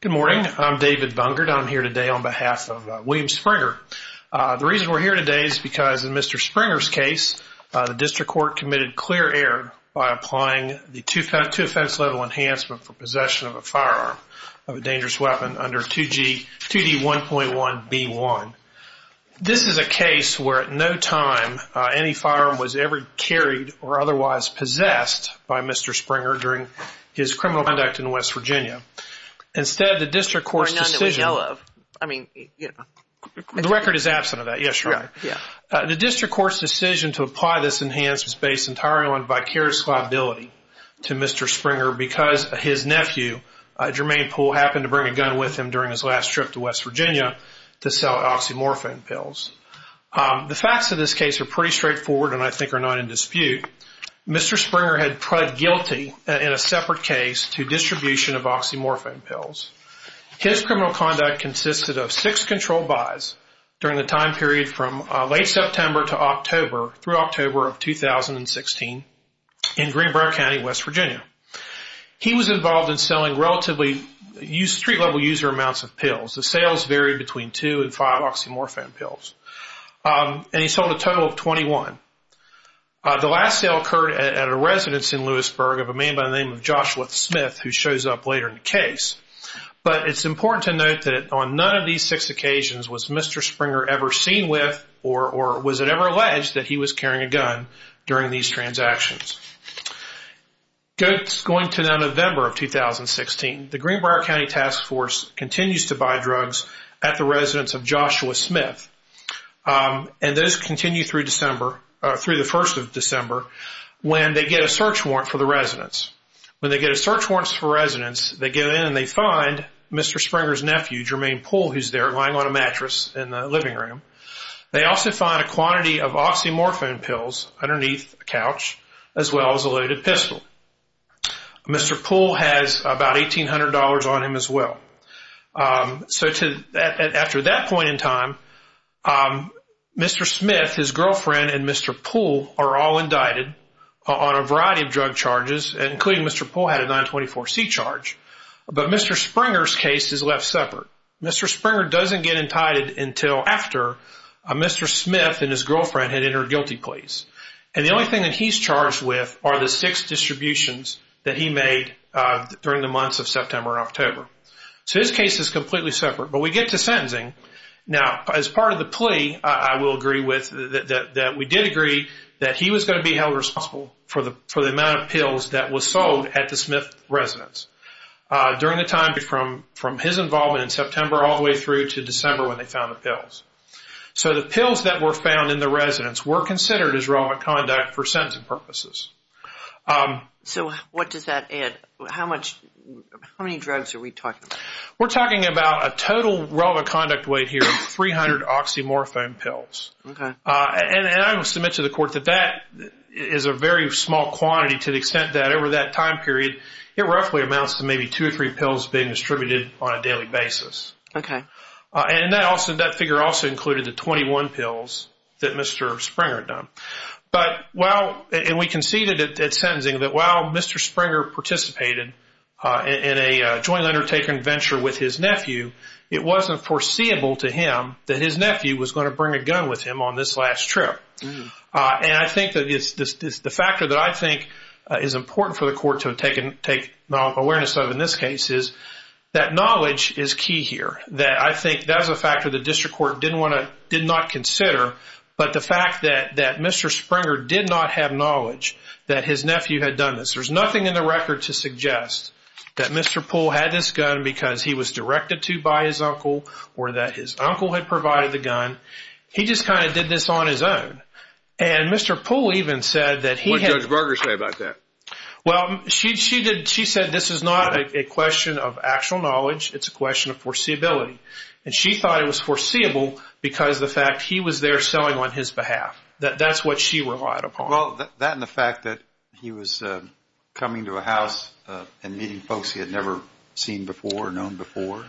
Good morning. I'm David Bunkert. I'm here today on behalf of William Springer. The reason we're here today is because in Mr. Springer's case, the district court committed clear error by applying the two-offense level enhancement for possession of a firearm of a dangerous weapon under 2D1.1B1. This is a case where at no time any firearm was ever carried or otherwise possessed by Mr. Springer during his criminal conduct in West Virginia. Instead, the district court's decision… The district court's decision to apply this enhancement was based entirely on vicarious liability to Mr. Springer because his nephew, Jermaine Poole, happened to bring a gun with him during his last trip to West Virginia to sell oxymorphone pills. The facts of this case are pretty straightforward and I think are not in dispute. Mr. Springer had pled guilty in a separate case to distribution of oxymorphone pills. His criminal conduct consisted of six controlled buys during the time period of possession of the firearm. He was involved in selling relatively street-level user amounts of pills. The sales varied between two and five oxymorphone pills. And he sold a total of 21. The last sale occurred at a residence in Lewisburg of a man by the name of Joshua Smith, who shows up later in the case. But it's important to note that on none of these six occasions was Mr. Springer ever seen with a firearm. Was it ever alleged that he was carrying a gun during these transactions? Going to November of 2016, the Greenbrier County Task Force continues to buy drugs at the residence of Joshua Smith. And those continue through the first of December when they get a search warrant for the residence. When they get a search warrant for the residence, they go in and they find Mr. Springer's nephew, Jermaine Poole, who's there lying on a mattress in the living room. They also find a quantity of oxymorphone pills underneath the couch, as well as a loaded pistol. Mr. Poole has about $1,800 on him as well. So after that point in time, Mr. Smith, his girlfriend, and Mr. Poole are all indicted on a variety of drug charges, including Mr. Poole had a 924C charge. But Mr. Springer's case is left separate. Mr. Springer doesn't get indicted until after Mr. Smith and his girlfriend had entered guilty pleas. And the only thing that he's charged with are the six distributions that he made during the months of September and October. So his case is completely separate. But we get to sentencing. Now, as part of the plea, I will agree with that we did agree that he was going to be held responsible for the amount of pills that was sold at the Smith residence during the time from his involvement in September all the way through to December when they found the pills. So the pills that were found in the residence were considered as relevant conduct for sentencing purposes. So what does that add? How many drugs are we talking about? We're talking about a total relevant conduct weight here of 300 oxymorphone pills. And I will submit to the court that that is a very small quantity to the extent that over that time period, it roughly amounts to maybe two or three pills being distributed on a daily basis. And that figure also included the 21 pills that Mr. Springer had done. And we conceded at sentencing that while Mr. Springer participated in a joint undertaking venture with his nephew, it wasn't foreseeable to him that his nephew was going to bring a gun with him on this last trip. And I think that the factor that I think is important for the court to take awareness of in this case is that knowledge is key here. That I think that was a factor the district court did not consider. But the fact that Mr. Springer did not have knowledge that his nephew had done this. And Mr. Poole even said that he had... What did Judge Barger say about that? Well, she said this is not a question of actual knowledge. It's a question of foreseeability. And she thought it was foreseeable because the fact he was there selling on his behalf. That's what she relied upon. Well, that and the fact that he was coming to a house and meeting folks he had never seen before, known before.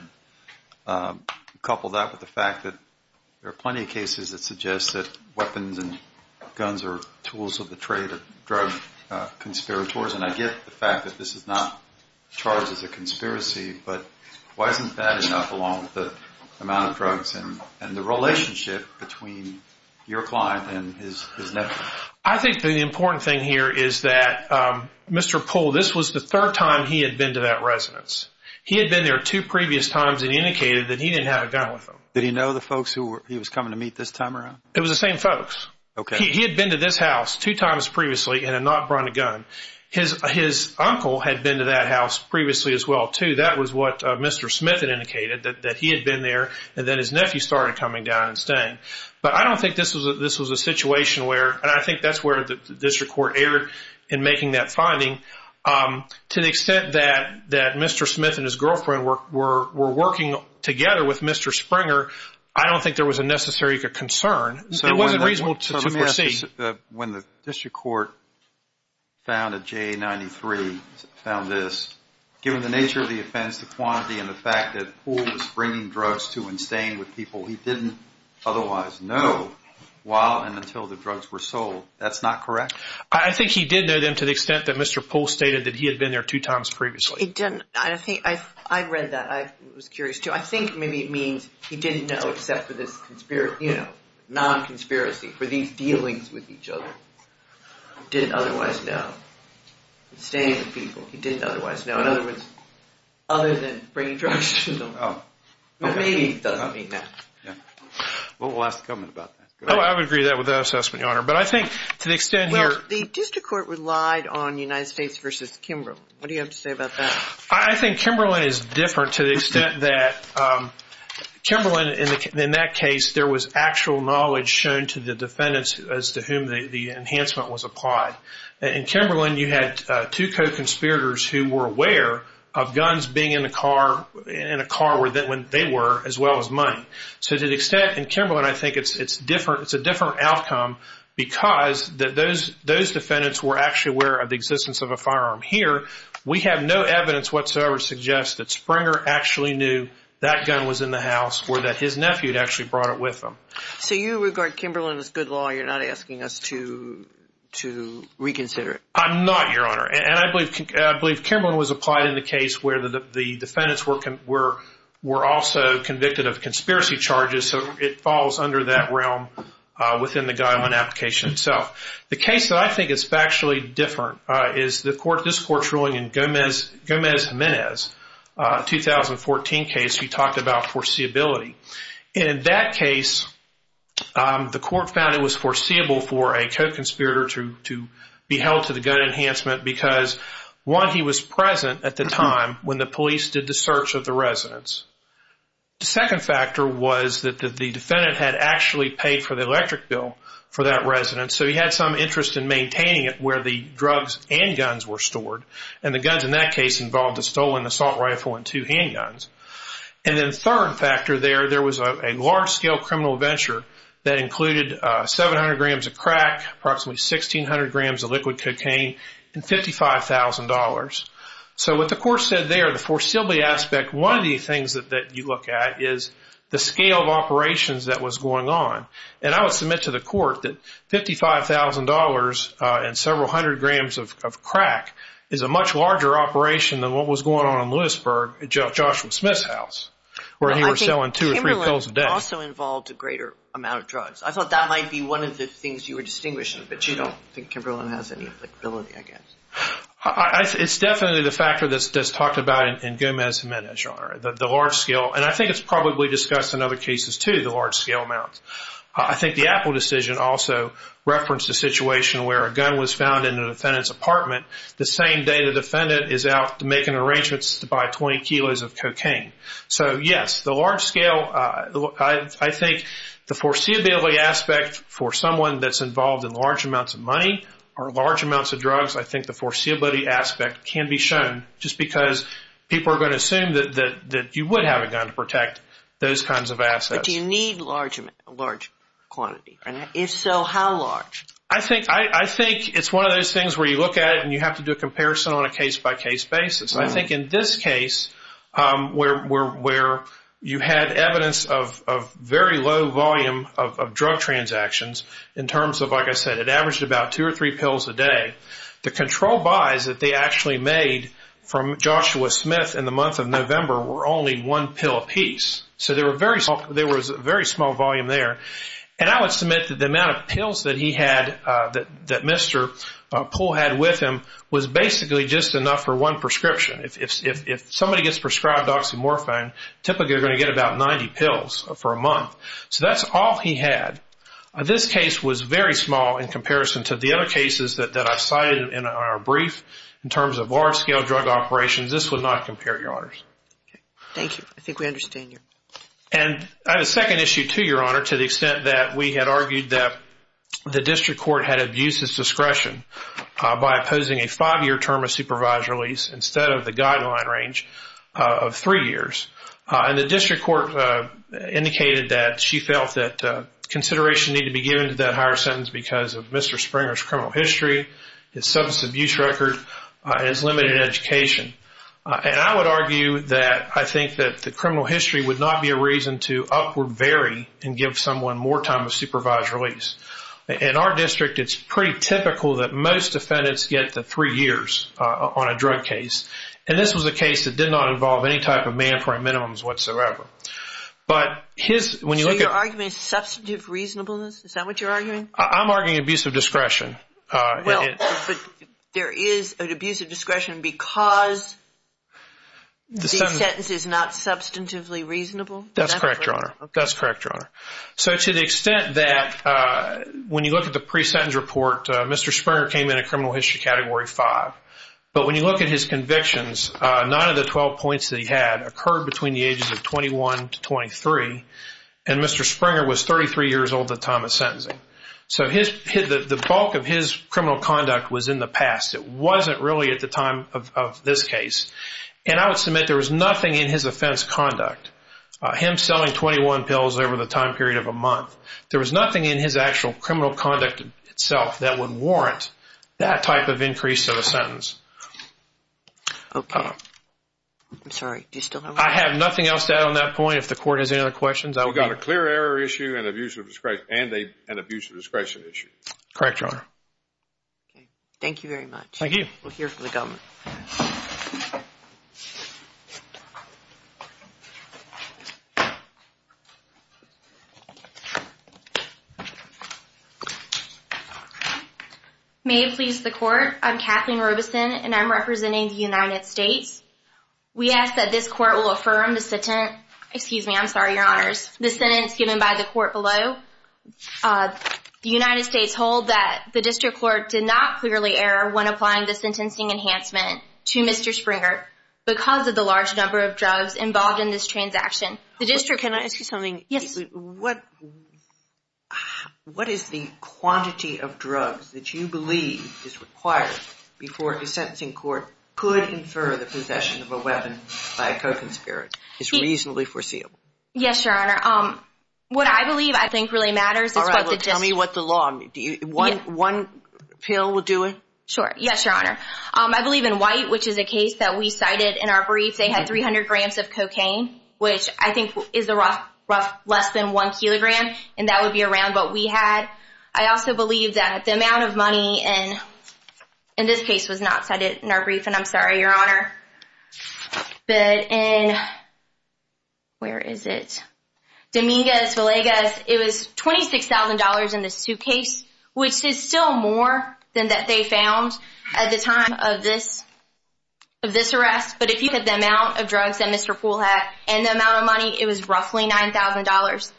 Couple that with the fact that there are plenty of cases that suggest that weapons and guns are tools of the trade of drug conspirators. And I get the fact that this is not charged as a conspiracy, but why isn't that enough along with the amount of drugs and the relationship between your client and his nephew? Well, I think the important thing here is that Mr. Poole, this was the third time he had been to that residence. He had been there two previous times and indicated that he didn't have a gun with him. Did he know the folks he was coming to meet this time around? It was the same folks. Okay. He had been to this house two times previously and had not brought a gun. His uncle had been to that house previously as well, too. That was what Mr. Smith had indicated, that he had been there and then his nephew started coming down and staying. But I don't think this was a situation where, and I think that's where the district court erred in making that finding. To the extent that Mr. Smith and his girlfriend were working together with Mr. Springer, I don't think there was a necessary concern. It wasn't reasonable to proceed. When the district court found a J93, found this, given the nature of the offense, the quantity, and the fact that Poole was bringing drugs to and staying with people, he didn't otherwise know while and until the drugs were sold. That's not correct? I think he did know them to the extent that Mr. Poole stated that he had been there two times previously. I read that. I was curious, too. I think maybe it means he didn't know except for this non-conspiracy, for these dealings with each other. He didn't otherwise know. Staying with people, he didn't otherwise know. In other words, other than bringing drugs to them. But maybe he doesn't mean that. We'll ask the government about that. I would agree with that assessment, Your Honor. But I think to the extent you're The district court relied on United States v. Kimberlin. What do you have to say about that? I think Kimberlin is different to the extent that Kimberlin, in that case, there was actual knowledge shown to the defendants as to whom the enhancement was applied. In Kimberlin, you had two co-conspirators who were aware of guns being in a car when they were, as well as money. So to the extent in Kimberlin, I think it's a different outcome because those defendants were actually aware of the existence of a firearm. Here, we have no evidence whatsoever to suggest that Springer actually knew that gun was in the house or that his nephew had actually brought it with him. So you regard Kimberlin as good law. You're not asking us to reconsider it. I'm not, Your Honor. And I believe Kimberlin was applied in the case where the defendants were also convicted of conspiracy charges. So it falls under that realm within the guile and application itself. The case that I think is factually different is this court's ruling in Gomez-Jimenez, a 2014 case. We talked about foreseeability. In that case, the court found it was foreseeable for a co-conspirator to be held to the gun enhancement because, one, he was present at the time when the police did the search of the residence. The second factor was that the defendant had actually paid for the electric bill for that residence. So he had some interest in maintaining it where the drugs and guns were stored. And the guns in that case involved a stolen assault rifle and two handguns. And then the third factor there, there was a large-scale criminal venture that included 700 grams of crack, approximately 1,600 grams of liquid cocaine, and $55,000. So what the court said there, the foreseeability aspect, one of the things that you look at is the scale of operations that was going on. And I would submit to the court that $55,000 and several hundred grams of crack is a much larger operation than what was going on in Lewisburg at Joshua Smith's house where he was selling two or three pills a day. Well, I think Kimberlin also involved a greater amount of drugs. I thought that might be one of the things you were distinguishing, but you don't think Kimberlin has any applicability, I guess. It's definitely the factor that's talked about in Gomez-Jimenez genre, the large-scale. And I think it's probably discussed in other cases, too, the large-scale amount. I think the Apple decision also referenced a situation where a gun was found in the defendant's apartment the same day the defendant is out making arrangements to buy 20 kilos of cocaine. So, yes, the large-scale, I think the foreseeability aspect for someone that's involved in large amounts of money or large amounts of drugs, I think the foreseeability aspect can be shown just because people are going to assume that you would have a gun to protect those kinds of assets. But do you need a large quantity? If so, how large? I think it's one of those things where you look at it and you have to do a comparison on a case-by-case basis. I think in this case where you had evidence of very low volume of drug transactions in terms of, like I said, it averaged about two or three pills a day, the control buys that they actually made from Joshua Smith in the month of November were only one pill apiece. So there was a very small volume there. And I would submit that the amount of pills that he had, that Mr. Poole had with him, was basically just enough for one prescription. If somebody gets prescribed oxymorphone, typically they're going to get about 90 pills for a month. So that's all he had. This case was very small in comparison to the other cases that I cited in our brief in terms of large-scale drug operations. This would not compare, Your Honors. Thank you. I think we understand you. And I have a second issue, too, Your Honor, to the extent that we had argued that the district court had abused its discretion by opposing a five-year term of supervised release instead of the guideline range of three years. And the district court indicated that she felt that consideration needed to be given to that higher sentence because of Mr. Springer's criminal history, his substance abuse record, and his limited education. And I would argue that I think that the criminal history would not be a reason to upward vary and give someone more time of supervised release. In our district, it's pretty typical that most defendants get to three years on a drug case. And this was a case that did not involve any type of mandatory minimums whatsoever. So your argument is substantive reasonableness? Is that what you're arguing? I'm arguing abusive discretion. Well, but there is an abusive discretion because the sentence is not substantively reasonable? That's correct, Your Honor. That's correct, Your Honor. So to the extent that when you look at the pre-sentence report, Mr. Springer came in a criminal history category five. But when you look at his convictions, none of the 12 points that he had occurred between the ages of 21 to 23. And Mr. Springer was 33 years old at the time of sentencing. So the bulk of his criminal conduct was in the past. It wasn't really at the time of this case. And I would submit there was nothing in his offense conduct, him selling 21 pills over the time period of a month. There was nothing in his actual criminal conduct itself that would warrant that type of increase of a sentence. Okay. I'm sorry. Do you still have one? I have nothing else to add on that point. If the Court has any other questions, I will be— It's a clear error issue and an abuse of discretion issue. Correct, Your Honor. Okay. Thank you very much. Thank you. We'll hear from the government. May it please the Court, I'm Kathleen Robeson, and I'm representing the United States. We ask that this Court will affirm the sentence—excuse me, I'm sorry, Your Honors—the sentence given by the Court below. The United States hold that the District Court did not clearly error when applying the sentencing enhancement to Mr. Springer because of the large number of drugs involved in this transaction. The District— Can I ask you something? Yes. What is the quantity of drugs that you believe is required before a sentencing court could infer the possession of a weapon by a co-conspirator? It's reasonably foreseeable. Yes, Your Honor. What I believe I think really matters is what the— All right. Well, tell me what the law—one pill will do it? Sure. Yes, Your Honor. I believe in white, which is a case that we cited in our brief. They had 300 grams of cocaine, which I think is a rough—less than one kilogram, and that would be around what we had. I also believe that the amount of money in this case was not cited in our brief, and I'm sorry, Your Honor. But in—where is it? Dominguez-Villegas, it was $26,000 in this suitcase, which is still more than that they found at the time of this—of this arrest. But if you look at the amount of drugs that Mr. Poole had and the amount of money, it was roughly $9,000.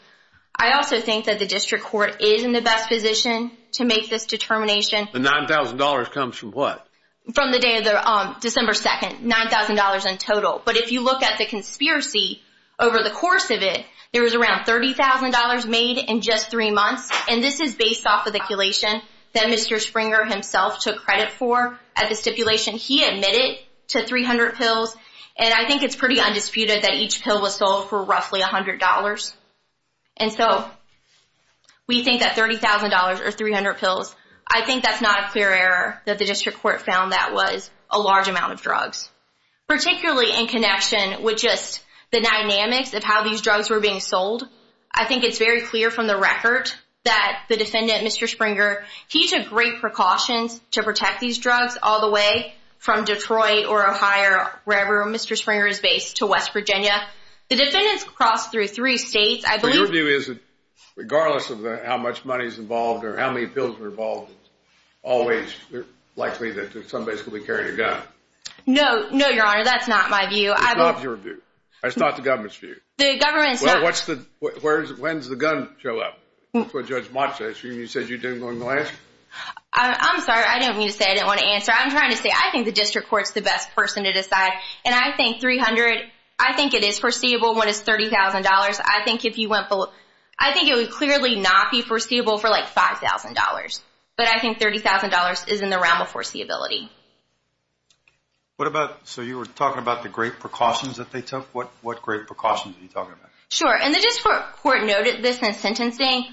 I also think that the District Court is in the best position to make this determination. The $9,000 comes from what? From the day of the—December 2nd, $9,000 in total. But if you look at the conspiracy over the course of it, there was around $30,000 made in just three months, and this is based off of the collation that Mr. Springer himself took credit for at the stipulation. He admitted to 300 pills, and I think it's pretty undisputed that each pill was sold for roughly $100. And so we think that $30,000 or 300 pills, I think that's not a clear error that the District Court found that was a large amount of drugs. Particularly in connection with just the dynamics of how these drugs were being sold, I think it's very clear from the record that the defendant, Mr. Springer, he took great precautions to protect these drugs all the way from Detroit or Ohio, wherever Mr. Springer is based, to West Virginia. The defendants crossed through three states. I believe— So your view is that regardless of how much money is involved or how many pills were involved, it's always likely that somebody's going to be carrying a gun? No. No, Your Honor, that's not my view. It's not your view? It's not the government's view? The government's not— Well, when does the gun show up? That's what Judge Mott said. She said you didn't want to answer. I'm sorry. I didn't mean to say I didn't want to answer. I'm trying to say I think the District Court's the best person to decide, and I think 300—I think it is foreseeable when it's $30,000. I think if you went full—I think it would clearly not be foreseeable for like $5,000, but I think $30,000 is in the realm of foreseeability. What about—so you were talking about the great precautions that they took? What great precautions are you talking about? Sure, and the District Court noted this in sentencing.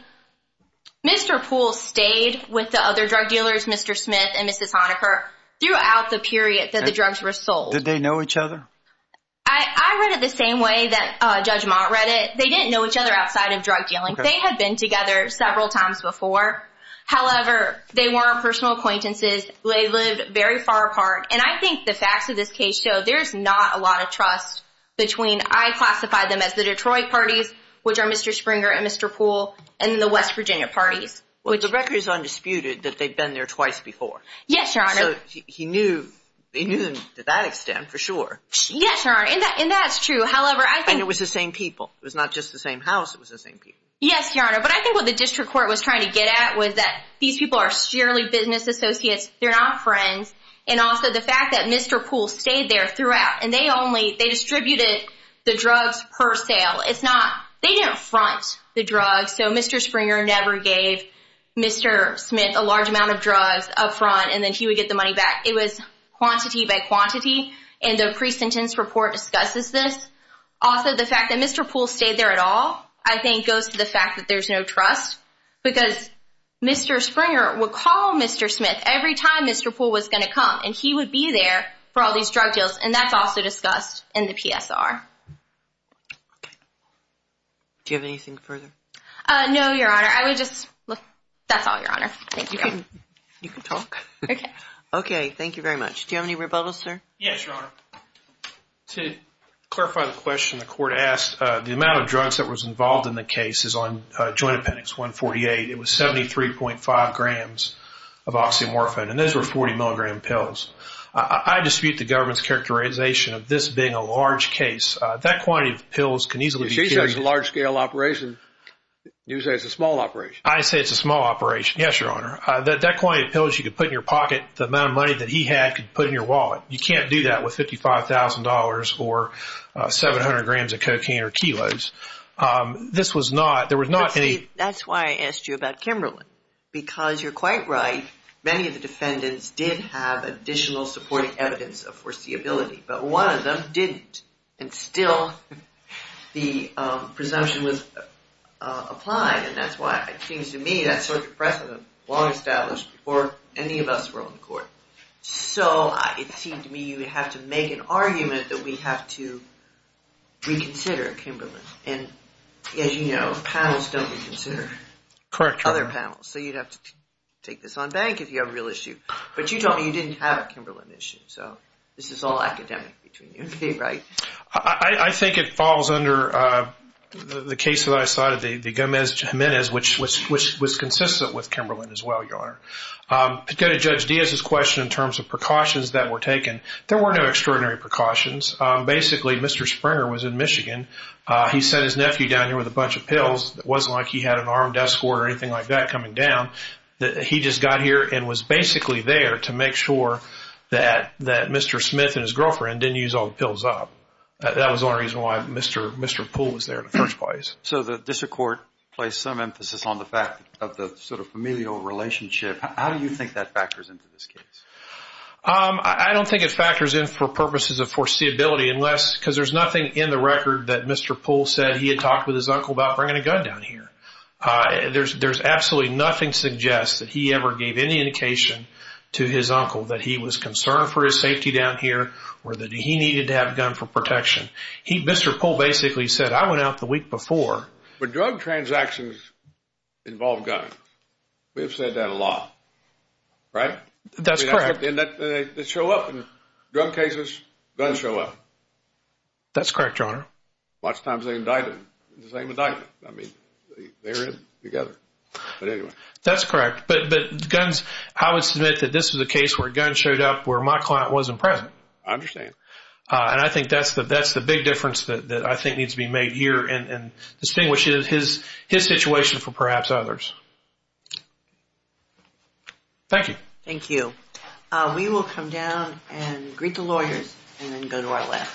Mr. Poole stayed with the other drug dealers, Mr. Smith and Mrs. Honaker, throughout the period that the drugs were sold. Did they know each other? I read it the same way that Judge Mott read it. They didn't know each other outside of drug dealing. They had been together several times before. However, they weren't personal acquaintances. They lived very far apart, and I think the facts of this case show there's not a lot of trust between—I classify them as the Detroit parties, which are Mr. Springer and Mr. Poole, and the West Virginia parties. Well, the record is undisputed that they've been there twice before. Yes, Your Honor. So he knew them to that extent for sure. Yes, Your Honor, and that's true. However, I think— And it was the same people. It was not just the same house. It was the same people. Yes, Your Honor, but I think what the district court was trying to get at was that these people are sheerly business associates. They're not friends, and also the fact that Mr. Poole stayed there throughout, and they only—they distributed the drugs per sale. It's not—they didn't front the drugs, so Mr. Springer never gave Mr. Smith a large amount of drugs up front, and then he would get the money back. It was quantity by quantity, and the pre-sentence report discusses this. Also, the fact that Mr. Poole stayed there at all, I think, goes to the fact that there's no trust because Mr. Springer would call Mr. Smith every time Mr. Poole was going to come, and he would be there for all these drug deals, and that's also discussed in the PSR. Okay. Do you have anything further? No, Your Honor. I would just—that's all, Your Honor. Thank you. You can talk. Okay. Yes, Your Honor. To clarify the question the court asked, the amount of drugs that was involved in the case is on joint appendix 148. It was 73.5 grams of oxymorphone, and those were 40-milligram pills. I dispute the government's characterization of this being a large case. That quantity of pills can easily be— You say it's a large-scale operation. You say it's a small operation. I say it's a small operation, yes, Your Honor. That quantity of pills you could put in your pocket, the amount of money that he had could put in your wallet. You can't do that with $55,000 or 700 grams of cocaine or kilos. This was not—there was not any— That's why I asked you about Kimberlin, because you're quite right. Many of the defendants did have additional supporting evidence of foreseeability, but one of them didn't, and still the presumption was applied, and that's why it seems to me that such a precedent was long established before any of us were on the court. So it seemed to me you would have to make an argument that we have to reconsider Kimberlin, and as you know, panels don't reconsider other panels. Correct, Your Honor. So you'd have to take this on bank if you have a real issue. But you told me you didn't have a Kimberlin issue, so this is all academic between you and me, right? I think it falls under the case that I cited, the Gomez-Jimenez, which was consistent with Kimberlin as well, Your Honor. To go to Judge Diaz's question in terms of precautions that were taken, there were no extraordinary precautions. Basically, Mr. Springer was in Michigan. He sent his nephew down here with a bunch of pills. It wasn't like he had an armed escort or anything like that coming down. He just got here and was basically there to make sure that Mr. Smith and his girlfriend didn't use all the pills up. That was the only reason why Mr. Poole was there in the first place. So the district court placed some emphasis on the fact of the sort of familial relationship. How do you think that factors into this case? I don't think it factors in for purposes of foreseeability, because there's nothing in the record that Mr. Poole said he had talked with his uncle about bringing a gun down here. There's absolutely nothing suggests that he ever gave any indication to his uncle that he was concerned for his safety down here or that he needed to have a gun for protection. Mr. Poole basically said, I went out the week before. But drug transactions involve guns. We've said that a lot, right? That's correct. They show up in drug cases, guns show up. That's correct, Your Honor. Lots of times they indict him, the same indictment. I mean, they're in it together. But anyway. That's correct. But guns, I would submit that this is a case where a gun showed up where my client wasn't present. I understand. And I think that's the big difference that I think needs to be made here and distinguishes his situation from perhaps others. Thank you. Thank you. We will come down and greet the lawyers and then go to our last case.